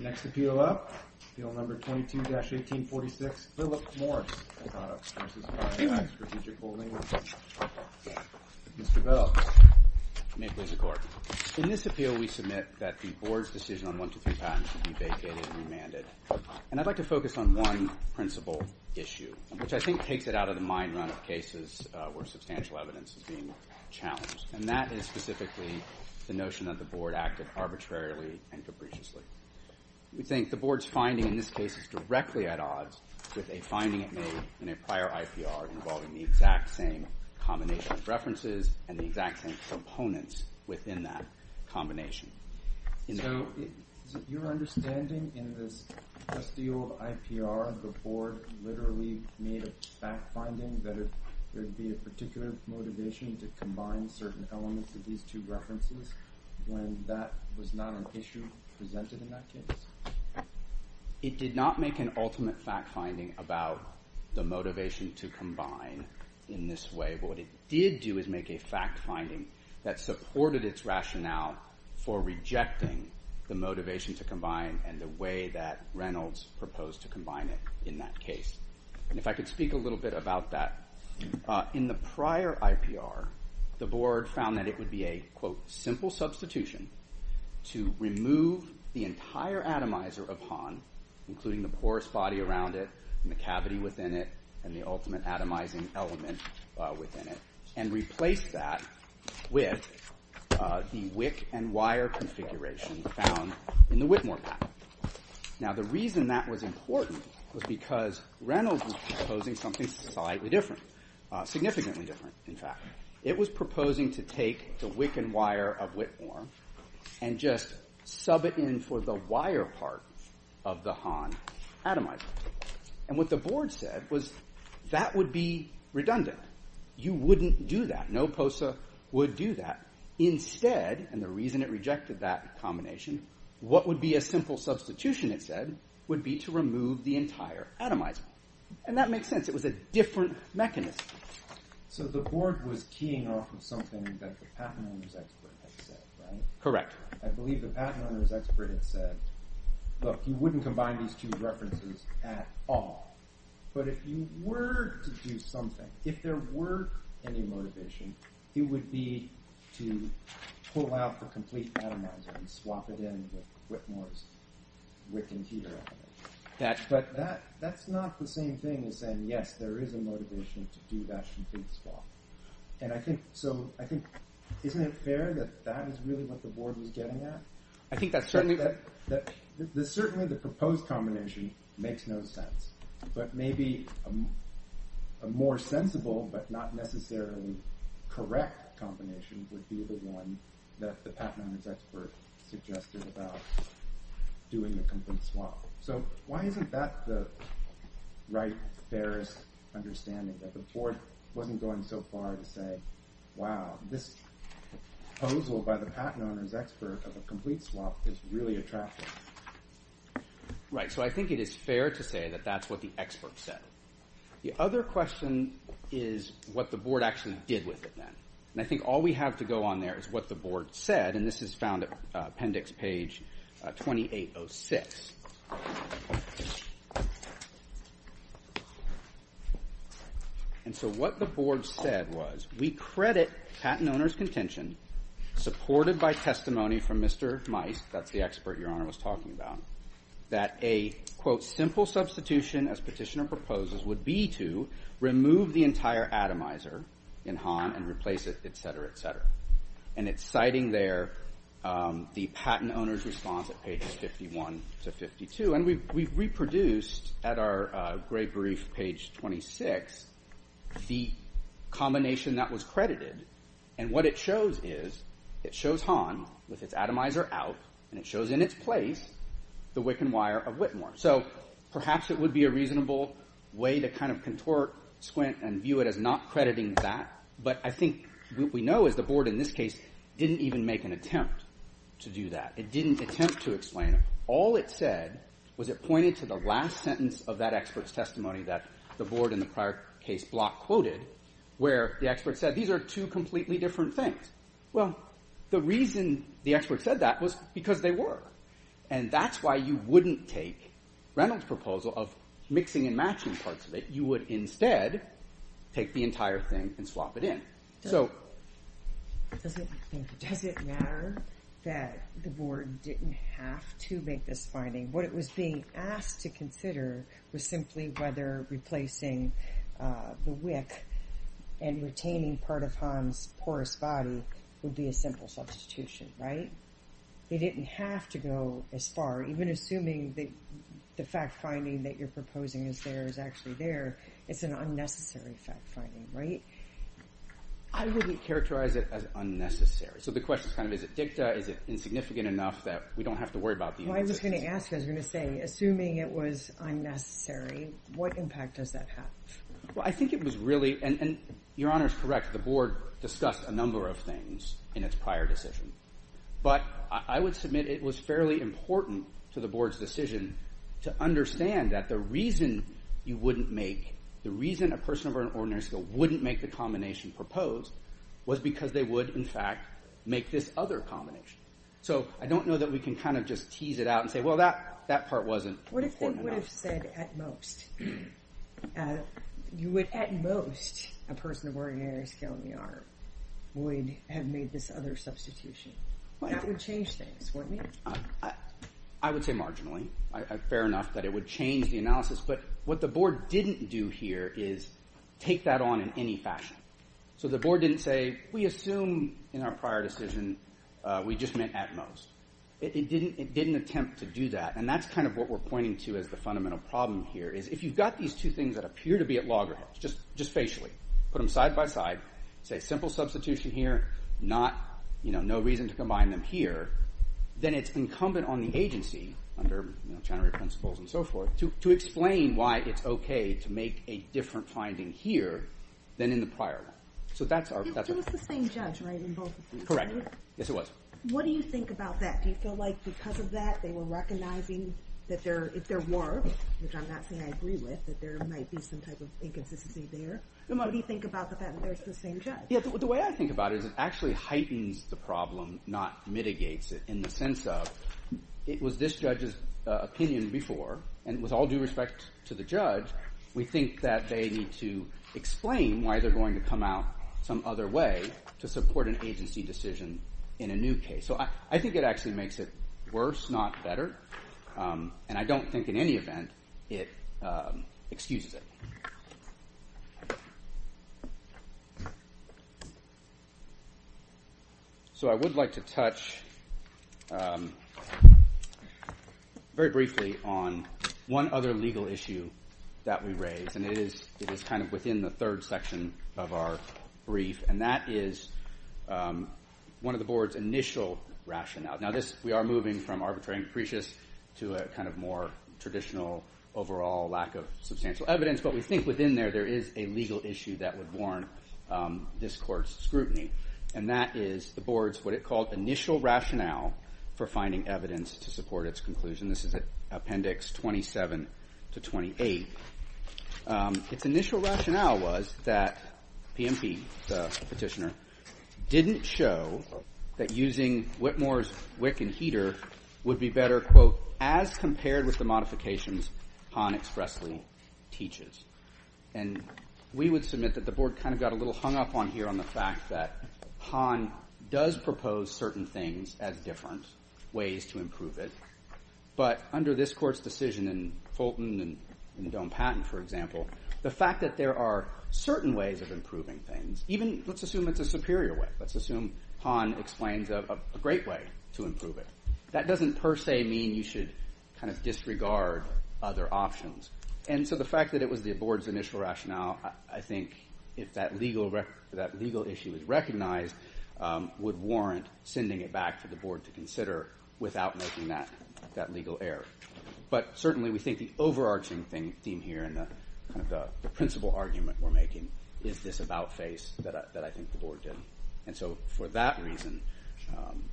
Mr. Bell. May it please the Court. In this appeal we submit that the Board's decision on 123 Patton should be vacated and remanded, and I'd like to focus on one principal issue, which I think takes it out of the mind run of cases where substantial evidence is being challenged, and that is specifically the notion that the Board acted arbitrarily and capriciously. We think the Board's finding in this case is directly at odds with a finding it made in a prior IPR involving the exact same combination of references and the exact same components within that combination. So your understanding in this just the old IPR, the Board literally made a fact-finding that there would be a particular motivation to combine certain elements of these two references when that was not an issue presented in that case? It did not make an ultimate fact-finding about the motivation to combine in this way, but what it did do is make a fact-finding that supported its rationale for rejecting the motivation to combine and the way that Reynolds proposed to combine it in that case. If I could speak a little bit about that. In the prior IPR, the Board found that it would be a simple substitution to remove the entire atomizer upon, including the porous body around it and the cavity within it and the ultimate atomizing element within it, and replace that with the wick and wire configuration found in the Whitmore patent. Now the reason that was important was because Reynolds was proposing something slightly different, significantly different in fact. It was proposing to take the wick and wire of Whitmore and just sub it in for the wire part of the Hahn atomizer. And what the Board said was that would be redundant. You wouldn't do that. No POSA would do that. Instead, and the reason it rejected that combination, what would be a simple substitution it said would be to remove the entire atomizer. And that makes sense. It was a different mechanism. So the Board was keying off of something that the patent owner's expert had said, right? Correct. I believe the patent owner's expert had said, look, you wouldn't combine these two references at all. But if you were to do something, if there were any motivation, it would be to pull out the complete atomizer and swap it in with Whitmore's wick and heater element. But that's not the same thing as saying, yes, there is a motivation to do that complete swap. And I think, so I think, isn't it fair that that is really what the Board was getting at? I think that's certainly. Certainly the proposed combination makes no sense, but maybe a more sensible but not necessarily correct combination would be the one that the patent owner's expert suggested about doing the complete swap. So why isn't that the right, fairest understanding that the Board wasn't going so far to say, wow, this proposal by the patent owner's expert of a complete swap is really attractive. Right. So I think it is fair to say that that's what the expert said. The other question is what the Board actually did with it. And I think all we have to go on there is what the Board said. And this is found at appendix page 2806. And so what the Board said was, we credit patent owner's contention supported by testimony from Mr. Meiss, that's the expert Your Honor was talking about, that a, quote, simple substitution as petitioner proposes would be to remove the entire atomizer in Hahn and replace it, et cetera, et cetera. And it's citing there the patent owner's response at pages 51 to 52. And we've reproduced at our gray brief, page 26, the combination that was credited. And what it shows is it shows Hahn with its atomizer out, and it shows in its place the wick and wire of Whitmore. So perhaps it would be a reasonable way to kind of contort, squint, and view it as not crediting that. But I think what we know is the Board in this case didn't even make an attempt to do that. It didn't attempt to explain it. All it said was it pointed to the last sentence of that expert's testimony that the Board in the prior case block quoted where the expert said these are two completely different things. Well, the reason the expert said that was because they were. And that's why you wouldn't take Reynolds' proposal of mixing and matching parts of it. You would instead take the entire thing and swap it in. Does it matter that the Board didn't have to make this finding? What it was being asked to consider was simply whether replacing the wick and retaining part of Hahn's porous body would be a simple substitution, right? They didn't have to go as far, even assuming that the fact-finding that you're proposing is there is actually there. It's an unnecessary fact-finding, right? I wouldn't characterize it as unnecessary. So the question is kind of, is it dicta? Is it insignificant enough that we don't have to worry about the— Well, I was going to ask. I was going to say, assuming it was unnecessary, what impact does that have? Well, I think it was really—and Your Honor is correct. The Board discussed a number of things in its prior decision. But I would submit it was fairly important to the Board's decision to understand that the reason you wouldn't make— the reason a person of ordinary skill wouldn't make the combination proposed was because they would, in fact, make this other combination. So I don't know that we can kind of just tease it out and say, well, that part wasn't important enough. You would have said at most. You would at most, a person of ordinary skill in the arm would have made this other substitution. That would change things, wouldn't it? I would say marginally. Fair enough that it would change the analysis. But what the Board didn't do here is take that on in any fashion. So the Board didn't say, we assume in our prior decision we just meant at most. It didn't attempt to do that. And that's kind of what we're pointing to as the fundamental problem here is if you've got these two things that appear to be at loggerheads, just facially, put them side by side, say simple substitution here, no reason to combine them here, then it's incumbent on the agency under Channery principles and so forth to explain why it's okay to make a different finding here than in the prior one. So that's our— It was the same judge, right, in both cases? Correct. Yes, it was. What do you think about that? Do you feel like because of that they were recognizing that there were, which I'm not saying I agree with, that there might be some type of inconsistency there? What do you think about the fact that there's the same judge? The way I think about it is it actually heightens the problem, not mitigates it in the sense of it was this judge's opinion before, and with all due respect to the judge, we think that they need to explain why they're going to come out some other way to support an agency decision in a new case. So I think it actually makes it worse, not better, and I don't think in any event it excuses it. So I would like to touch very briefly on one other legal issue that we raised, and it is kind of within the third section of our brief, and that is one of the Board's initial rationale. Now, we are moving from arbitrary and capricious to a kind of more traditional overall lack of substantial evidence, but we think within there there is a legal issue that would warrant this Court's scrutiny, and that is the Board's what it called initial rationale for finding evidence to support its conclusion. This is Appendix 27 to 28. Its initial rationale was that PMP, the petitioner, didn't show that using Whitmore's wick and heater would be better, quote, as compared with the modifications Hahn expressly teaches. And we would submit that the Board kind of got a little hung up on here on the fact that Hahn does propose certain things as different ways to improve it, but under this Court's decision in Fulton and in Doan-Patton, for example, the fact that there are certain ways of improving things, even let's assume it's a superior way. Let's assume Hahn explains a great way to improve it. That doesn't per se mean you should kind of disregard other options. And so the fact that it was the Board's initial rationale, I think if that legal issue is recognized, would warrant sending it back for the Board to consider without making that legal error. But certainly we think the overarching theme here and the principle argument we're making is this about face that I think the Board did. And so for that reason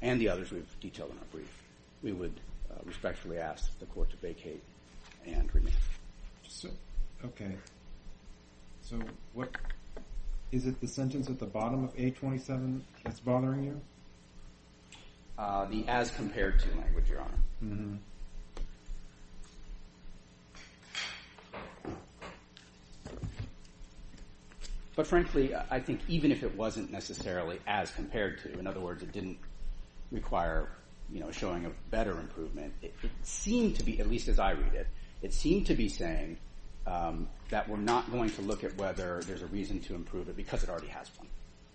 and the others we've detailed in our brief, we would respectfully ask the Court to vacate and remain. Okay. So is it the sentence at the bottom of A27 that's bothering you? The as compared to language, Your Honor. But frankly, I think even if it wasn't necessarily as compared to, in other words, it didn't require showing a better improvement, it seemed to be, at least as I read it, it seemed to be saying that we're not going to look at whether there's a reason to improve it because it already has one.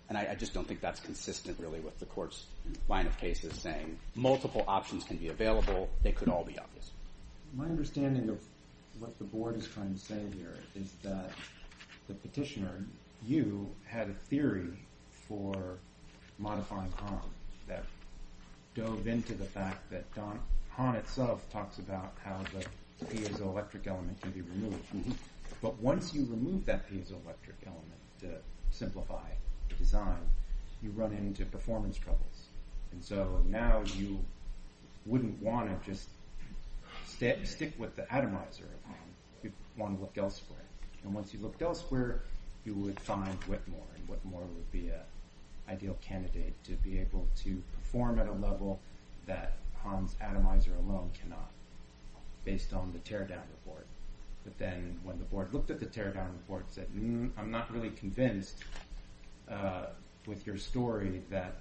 And I just don't think that's consistent really with the Court's line of cases saying multiple options can be available, they could all be obvious. My understanding of what the Board is trying to say here is that the petitioner, you, had a theory for modifying Hahn that dove into the fact that Hahn itself talks about how the piezoelectric element can be removed. But once you remove that piezoelectric element to simplify the design, you run into performance troubles. And so now you wouldn't want to just stick with the atomizer of Hahn, you'd want to look elsewhere. And once you looked elsewhere, you would find Whitmore, and Whitmore would be an ideal candidate to be able to perform at a level that Hahn's atomizer alone cannot based on the teardown report. But then when the Board looked at the teardown report and said, I'm not really convinced with your story that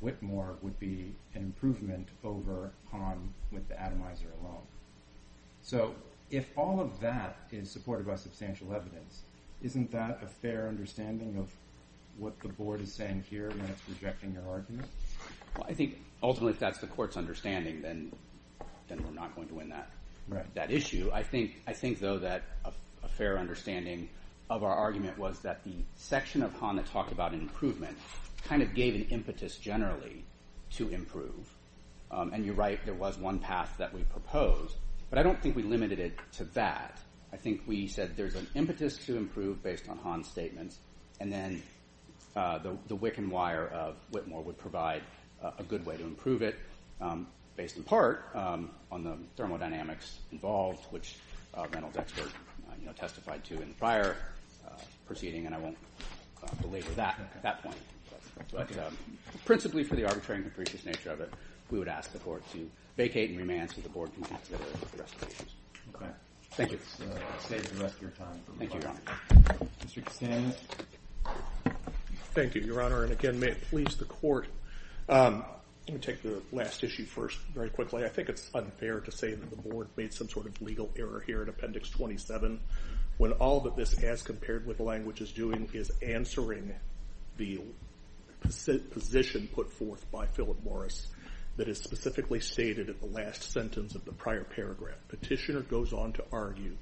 Whitmore would be an improvement over Hahn with the atomizer alone. So if all of that is supported by substantial evidence, isn't that a fair understanding of what the Board is saying here when it's rejecting your argument? I think ultimately if that's the Court's understanding, then we're not going to win that issue. I think, though, that a fair understanding of our argument was that the section of Hahn that talked about an improvement kind of gave an impetus generally to improve. And you're right, there was one path that we proposed, but I don't think we limited it to that. I think we said there's an impetus to improve based on Hahn's statements, and then the wick and wire of Whitmore would provide a good way to improve it based in part on the thermodynamics involved, which Reynolds' expert testified to in the prior proceeding, and I won't belabor that at that point. But principally for the arbitrary and capricious nature of it, we would ask the Court to vacate and remand so the Board can consider the rest of the issues. Thank you. Thank you, Your Honor. Mr. Cassano. Thank you, Your Honor. And again, may it please the Court, let me take the last issue first very quickly. I think it's unfair to say that the Board made some sort of legal error here in Appendix 27 when all that this has compared with the language is doing is answering the position put forth by Philip Morris that is specifically stated in the last sentence of the prior paragraph. Petitioner goes on to argue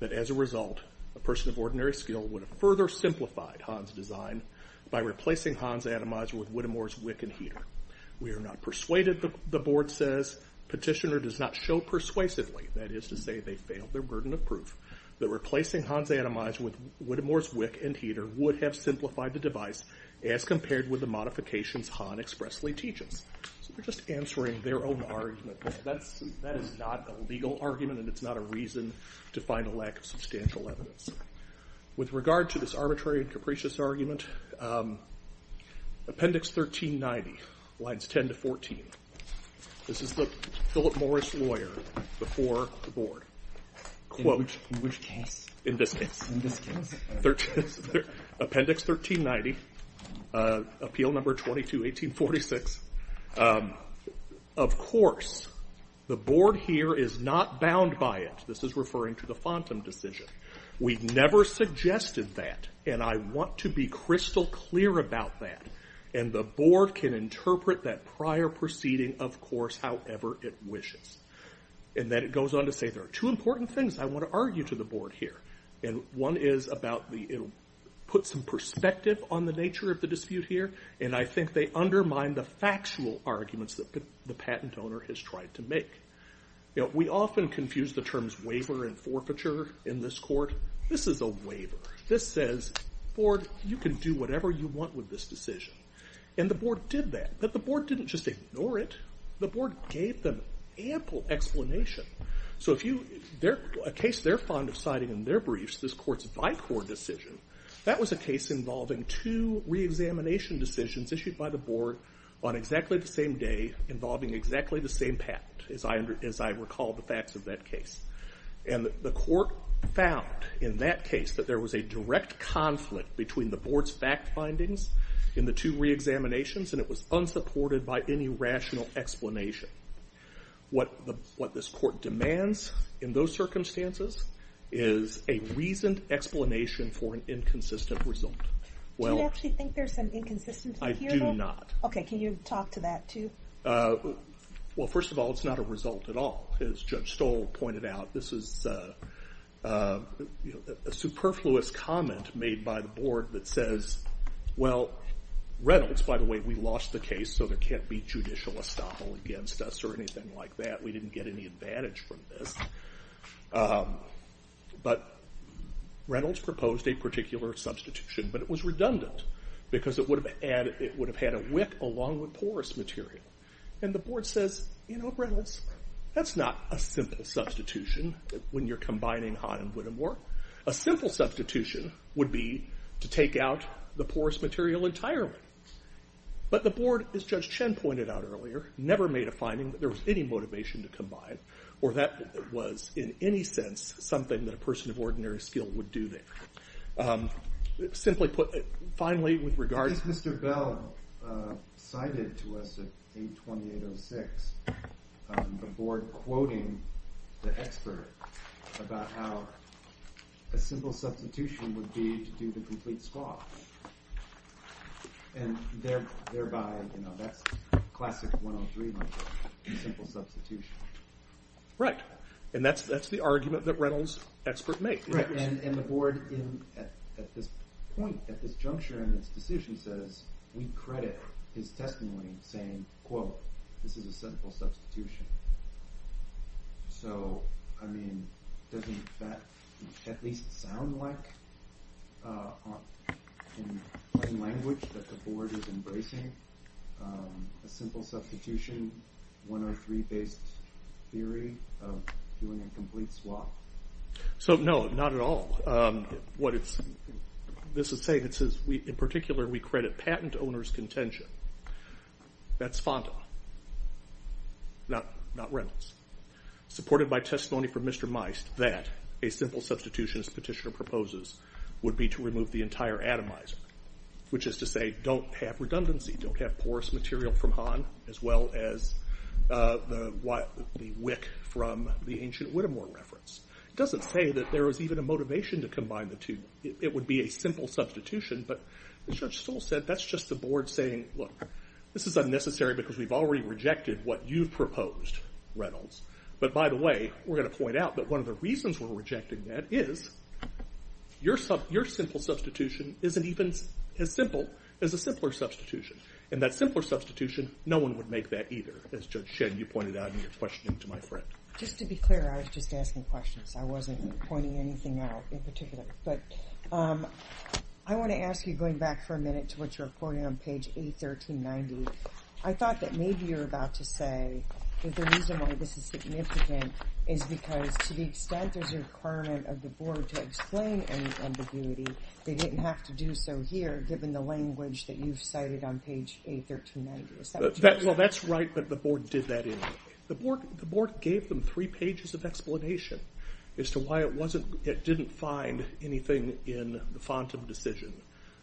that as a result, a person of ordinary skill would have further simplified Hahn's design by replacing Hahn's atomizer with Whitmore's wick and heater. We are not persuaded, the Board says. Petitioner does not show persuasively, that is to say they failed their burden of proof, that replacing Hahn's atomizer with Whitmore's wick and heater would have simplified the device as compared with the modifications Hahn expressly teaches. So they're just answering their own argument. That is not a legal argument, and it's not a reason to find a lack of substantial evidence. With regard to this arbitrary and capricious argument, Appendix 1390, lines 10 to 14. This is the Philip Morris lawyer before the Board. In which case? In this case. In this case. Appendix 1390, Appeal Number 22, 1846. Of course, the Board here is not bound by it. This is referring to the FONTM decision. We've never suggested that, and I want to be crystal clear about that. And the Board can interpret that prior proceeding, of course, however it wishes. And then it goes on to say there are two important things I want to argue to the Board here. And one is about the, it'll put some perspective on the nature of the dispute here, and I think they undermine the factual arguments that the patent owner has tried to make. We often confuse the terms waiver and forfeiture in this court. This is a waiver. This says, Board, you can do whatever you want with this decision. And the Board did that, but the Board didn't just ignore it. The Board gave them ample explanation. So if you, a case they're fond of citing in their briefs, this court's VICOR decision, that was a case involving two reexamination decisions issued by the Board on exactly the same day, involving exactly the same patent, as I recall the facts of that case. And the court found in that case that there was a direct conflict between the Board's fact findings in the two reexaminations, and it was unsupported by any rational explanation. What this court demands in those circumstances is a reasoned explanation for an inconsistent result. Do you actually think there's some inconsistency here? I do not. Okay, can you talk to that too? Well, first of all, it's not a result at all. As Judge Stoll pointed out, this is a superfluous comment made by the Board that says, Well, Reynolds, by the way, we lost the case so there can't be judicial estoppel against us or anything like that. We didn't get any advantage from this. But Reynolds proposed a particular substitution, but it was redundant because it would have had a wick along with porous material. And the Board says, you know, Reynolds, that's not a simple substitution when you're combining Hahn and Whittemore. A simple substitution would be to take out the porous material entirely. But the Board, as Judge Chen pointed out earlier, never made a finding that there was any motivation to combine, or that it was in any sense something that a person of ordinary skill would do there. Simply put, finally, with regard to... Reynolds cited to us at 8-28-06 the Board quoting the expert about how a simple substitution would be to do the complete squash. And thereby, you know, that's classic 103, a simple substitution. Right, and that's the argument that Reynolds' expert made. Right, and the Board at this point, at this juncture in its decision says, we credit his testimony saying, quote, this is a simple substitution. So, I mean, doesn't that at least sound like, in plain language, that the Board is embracing a simple substitution, 103-based theory of doing a complete squash? So, no, not at all. This is saying, in particular, we credit patent owner's contention. That's Fonda, not Reynolds. Supported by testimony from Mr. Meist that a simple substitution, as Petitioner proposes, would be to remove the entire atomizer. Which is to say, don't have redundancy, don't have porous material from Hahn, as well as the wick from the ancient Whittemore reference. It doesn't say that there is even a motivation to combine the two. It would be a simple substitution, but as Judge Stoll said, that's just the Board saying, look, this is unnecessary because we've already rejected what you've proposed, Reynolds. But by the way, we're going to point out that one of the reasons we're rejecting that is, your simple substitution isn't even as simple as a simpler substitution. And that simpler substitution, no one would make that either, as Judge Shinn, you pointed out in your questioning to my friend. Just to be clear, I was just asking questions. I wasn't pointing anything out in particular. But I want to ask you, going back for a minute to what you're reporting on page 81390, I thought that maybe you're about to say that the reason why this is significant is because to the extent there's a requirement of the Board to explain any ambiguity, they didn't have to do so here, given the language that you've cited on page 81390. Is that what you're saying? Well, that's right, but the Board did that anyway. The Board gave them three pages of explanation as to why it didn't find anything in the FONTA decision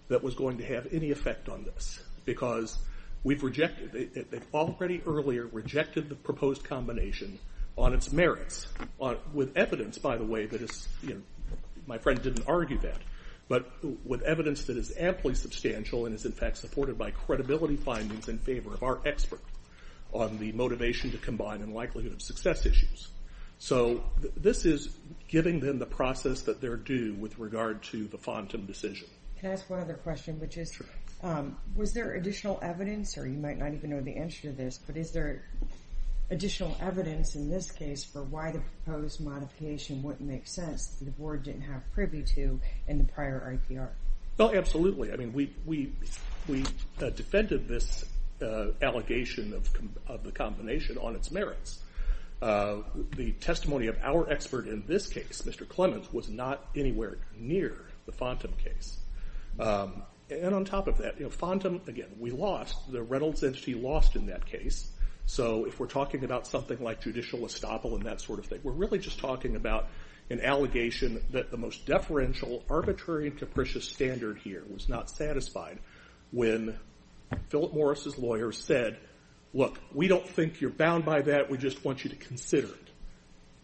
that was going to have any effect on this, because we've rejected it. They've already earlier rejected the proposed combination on its merits, with evidence, by the way, that is, you know, my friend didn't argue that, but with evidence that is amply substantial and is in fact supported by credibility findings in favor of our expert on the motivation to combine and likelihood of success issues. So this is giving them the process that they're due with regard to the FONTA decision. Can I ask one other question, which is, was there additional evidence, or you might not even know the answer to this, but is there additional evidence in this case for why the proposed modification wouldn't make sense that the Board didn't have privy to in the prior IPR? Well, absolutely. I mean, we defended this allegation of the combination on its merits. The testimony of our expert in this case, Mr. Clements, was not anywhere near the FONTA case. And on top of that, FONTA, again, we lost. The Reynolds entity lost in that case. So if we're talking about something like judicial estoppel and that sort of thing, we're really just talking about an allegation that the most deferential, arbitrary, and capricious standard here was not satisfied when Philip Morris's lawyer said, look, we don't think you're bound by that. We just want you to consider it.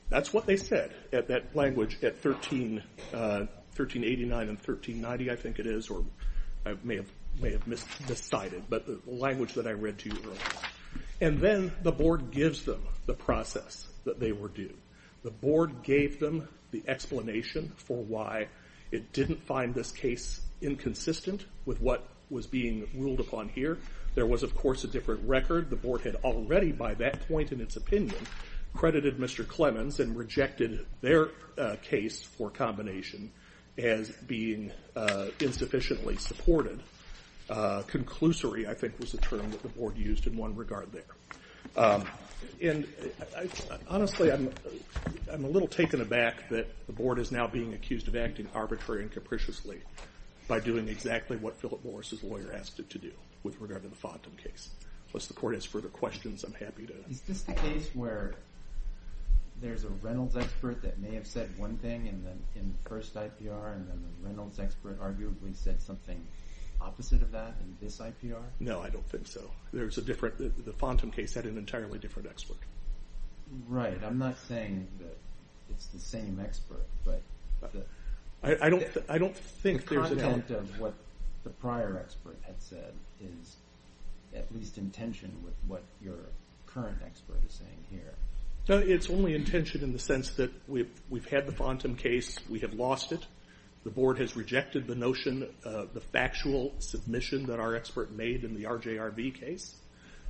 That's what they said at that language at 1389 and 1390, I think it is, or I may have miscited, but the language that I read to you earlier. And then the Board gives them the process that they were due. The Board gave them the explanation for why it didn't find this case inconsistent with what was being ruled upon here. There was, of course, a different record. The Board had already by that point in its opinion credited Mr. Clements and rejected their case for combination as being insufficiently supported. Conclusory, I think, was the term that the Board used in one regard there. And honestly, I'm a little taken aback that the Board is now being accused of acting arbitrary and capriciously by doing exactly what Philip Morris's lawyer asked it to do with regard to the FONTA case. Unless the Court has further questions, I'm happy to. Is this the case where there's a Reynolds expert that may have said one thing in the first IPR and then the Reynolds expert arguably said something opposite of that in this IPR? No, I don't think so. The FONTA case had an entirely different expert. Right. I'm not saying that it's the same expert. I don't think there's a- The content of what the prior expert had said is at least in tension with what your current expert is saying here. No, it's only in tension in the sense that we've had the FONTA case. We have lost it. The Board has rejected the notion of the factual submission that our expert made in the RJRB case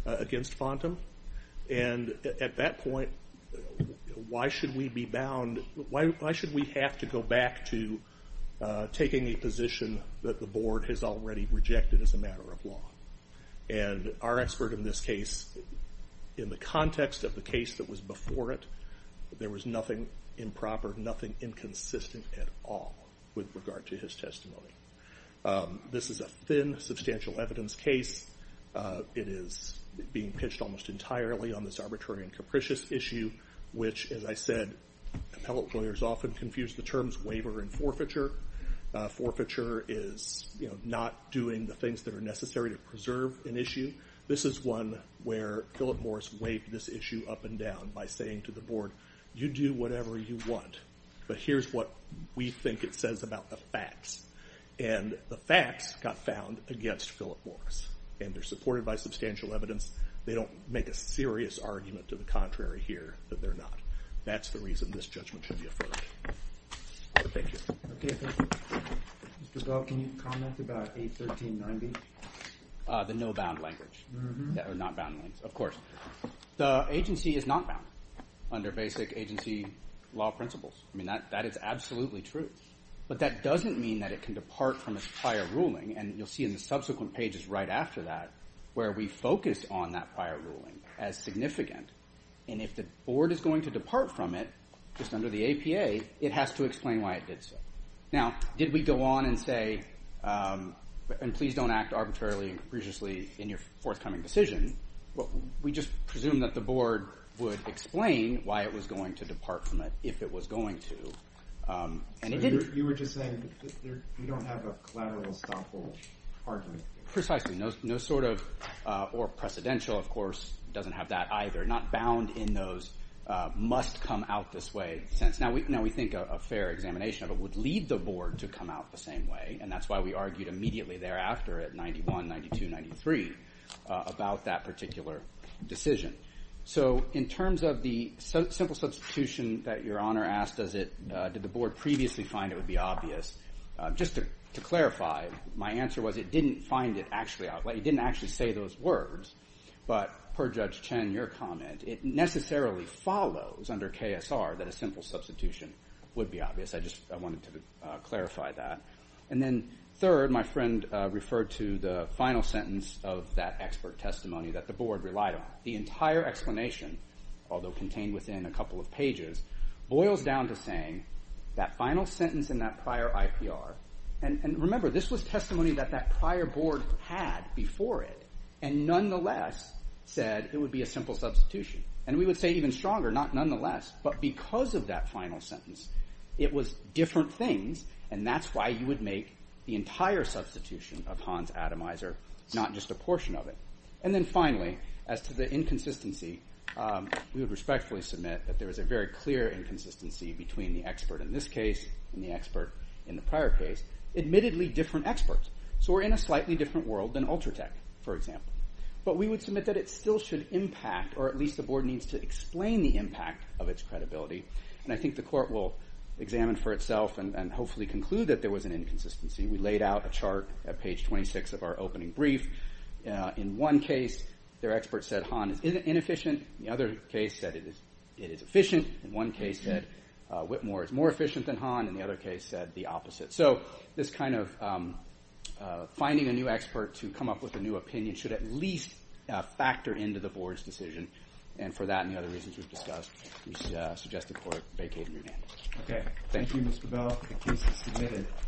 against FONTA. At that point, why should we have to go back to taking a position that the Board has already rejected as a matter of law? Our expert in this case, in the context of the case that was before it, there was nothing improper, nothing inconsistent at all with regard to his testimony. This is a thin, substantial evidence case. It is being pitched almost entirely on this arbitrary and capricious issue, which, as I said, appellate lawyers often confuse the terms waiver and forfeiture. Forfeiture is not doing the things that are necessary to preserve an issue. This is one where Philip Morris weighed this issue up and down by saying to the Board, you do whatever you want, and the facts got found against Philip Morris, and they're supported by substantial evidence. They don't make a serious argument to the contrary here that they're not. That's the reason this judgment should be affirmed. Thank you. Okay, thank you. Mr. Bell, can you comment about 81390? The no bound language, or not bound language, of course. The agency is not bound under basic agency law principles. That is absolutely true. But that doesn't mean that it can depart from its prior ruling, and you'll see in the subsequent pages right after that where we focus on that prior ruling as significant. And if the Board is going to depart from it, just under the APA, it has to explain why it did so. Now, did we go on and say, and please don't act arbitrarily and capriciously in your forthcoming decision. We just presumed that the Board would explain why it was going to depart from it if it was going to. You were just saying that we don't have a collateral estoppel argument. Precisely. No sort of, or precedential, of course, doesn't have that either. Not bound in those must-come-out-this-way sense. Now, we think a fair examination of it would lead the Board to come out the same way, and that's why we argued immediately thereafter at 919293 about that particular decision. So in terms of the simple substitution that Your Honor asked, did the Board previously find it would be obvious? Just to clarify, my answer was it didn't actually say those words, but per Judge Chen, your comment, it necessarily follows under KSR that a simple substitution would be obvious. I just wanted to clarify that. And then third, my friend referred to the final sentence of that expert testimony that the Board relied on. The entire explanation, although contained within a couple of pages, boils down to saying that final sentence in that prior IPR, and remember, this was testimony that that prior Board had before it, and nonetheless said it would be a simple substitution. And we would say it even stronger, not nonetheless, but because of that final sentence, it was different things, and that's why you would make the entire substitution of Hans Ademiser, not just a portion of it. And then finally, as to the inconsistency, we would respectfully submit that there is a very clear inconsistency between the expert in this case and the expert in the prior case, admittedly different experts. So we're in a slightly different world than Ultratech, for example. But we would submit that it still should impact, or at least the Board needs to explain the impact of its credibility, and I think the Court will examine for itself and hopefully conclude that there was an inconsistency. We laid out a chart at page 26 of our opening brief. In one case, their expert said Hahn is inefficient. In the other case, said it is efficient. In one case, said Whitmore is more efficient than Hahn. In the other case, said the opposite. So this kind of finding a new expert to come up with a new opinion should at least factor into the Board's decision, and for that and the other reasons we've discussed, we suggest the Court vacate and remand. Okay. Thank you, Mr. Bell. The case is submitted.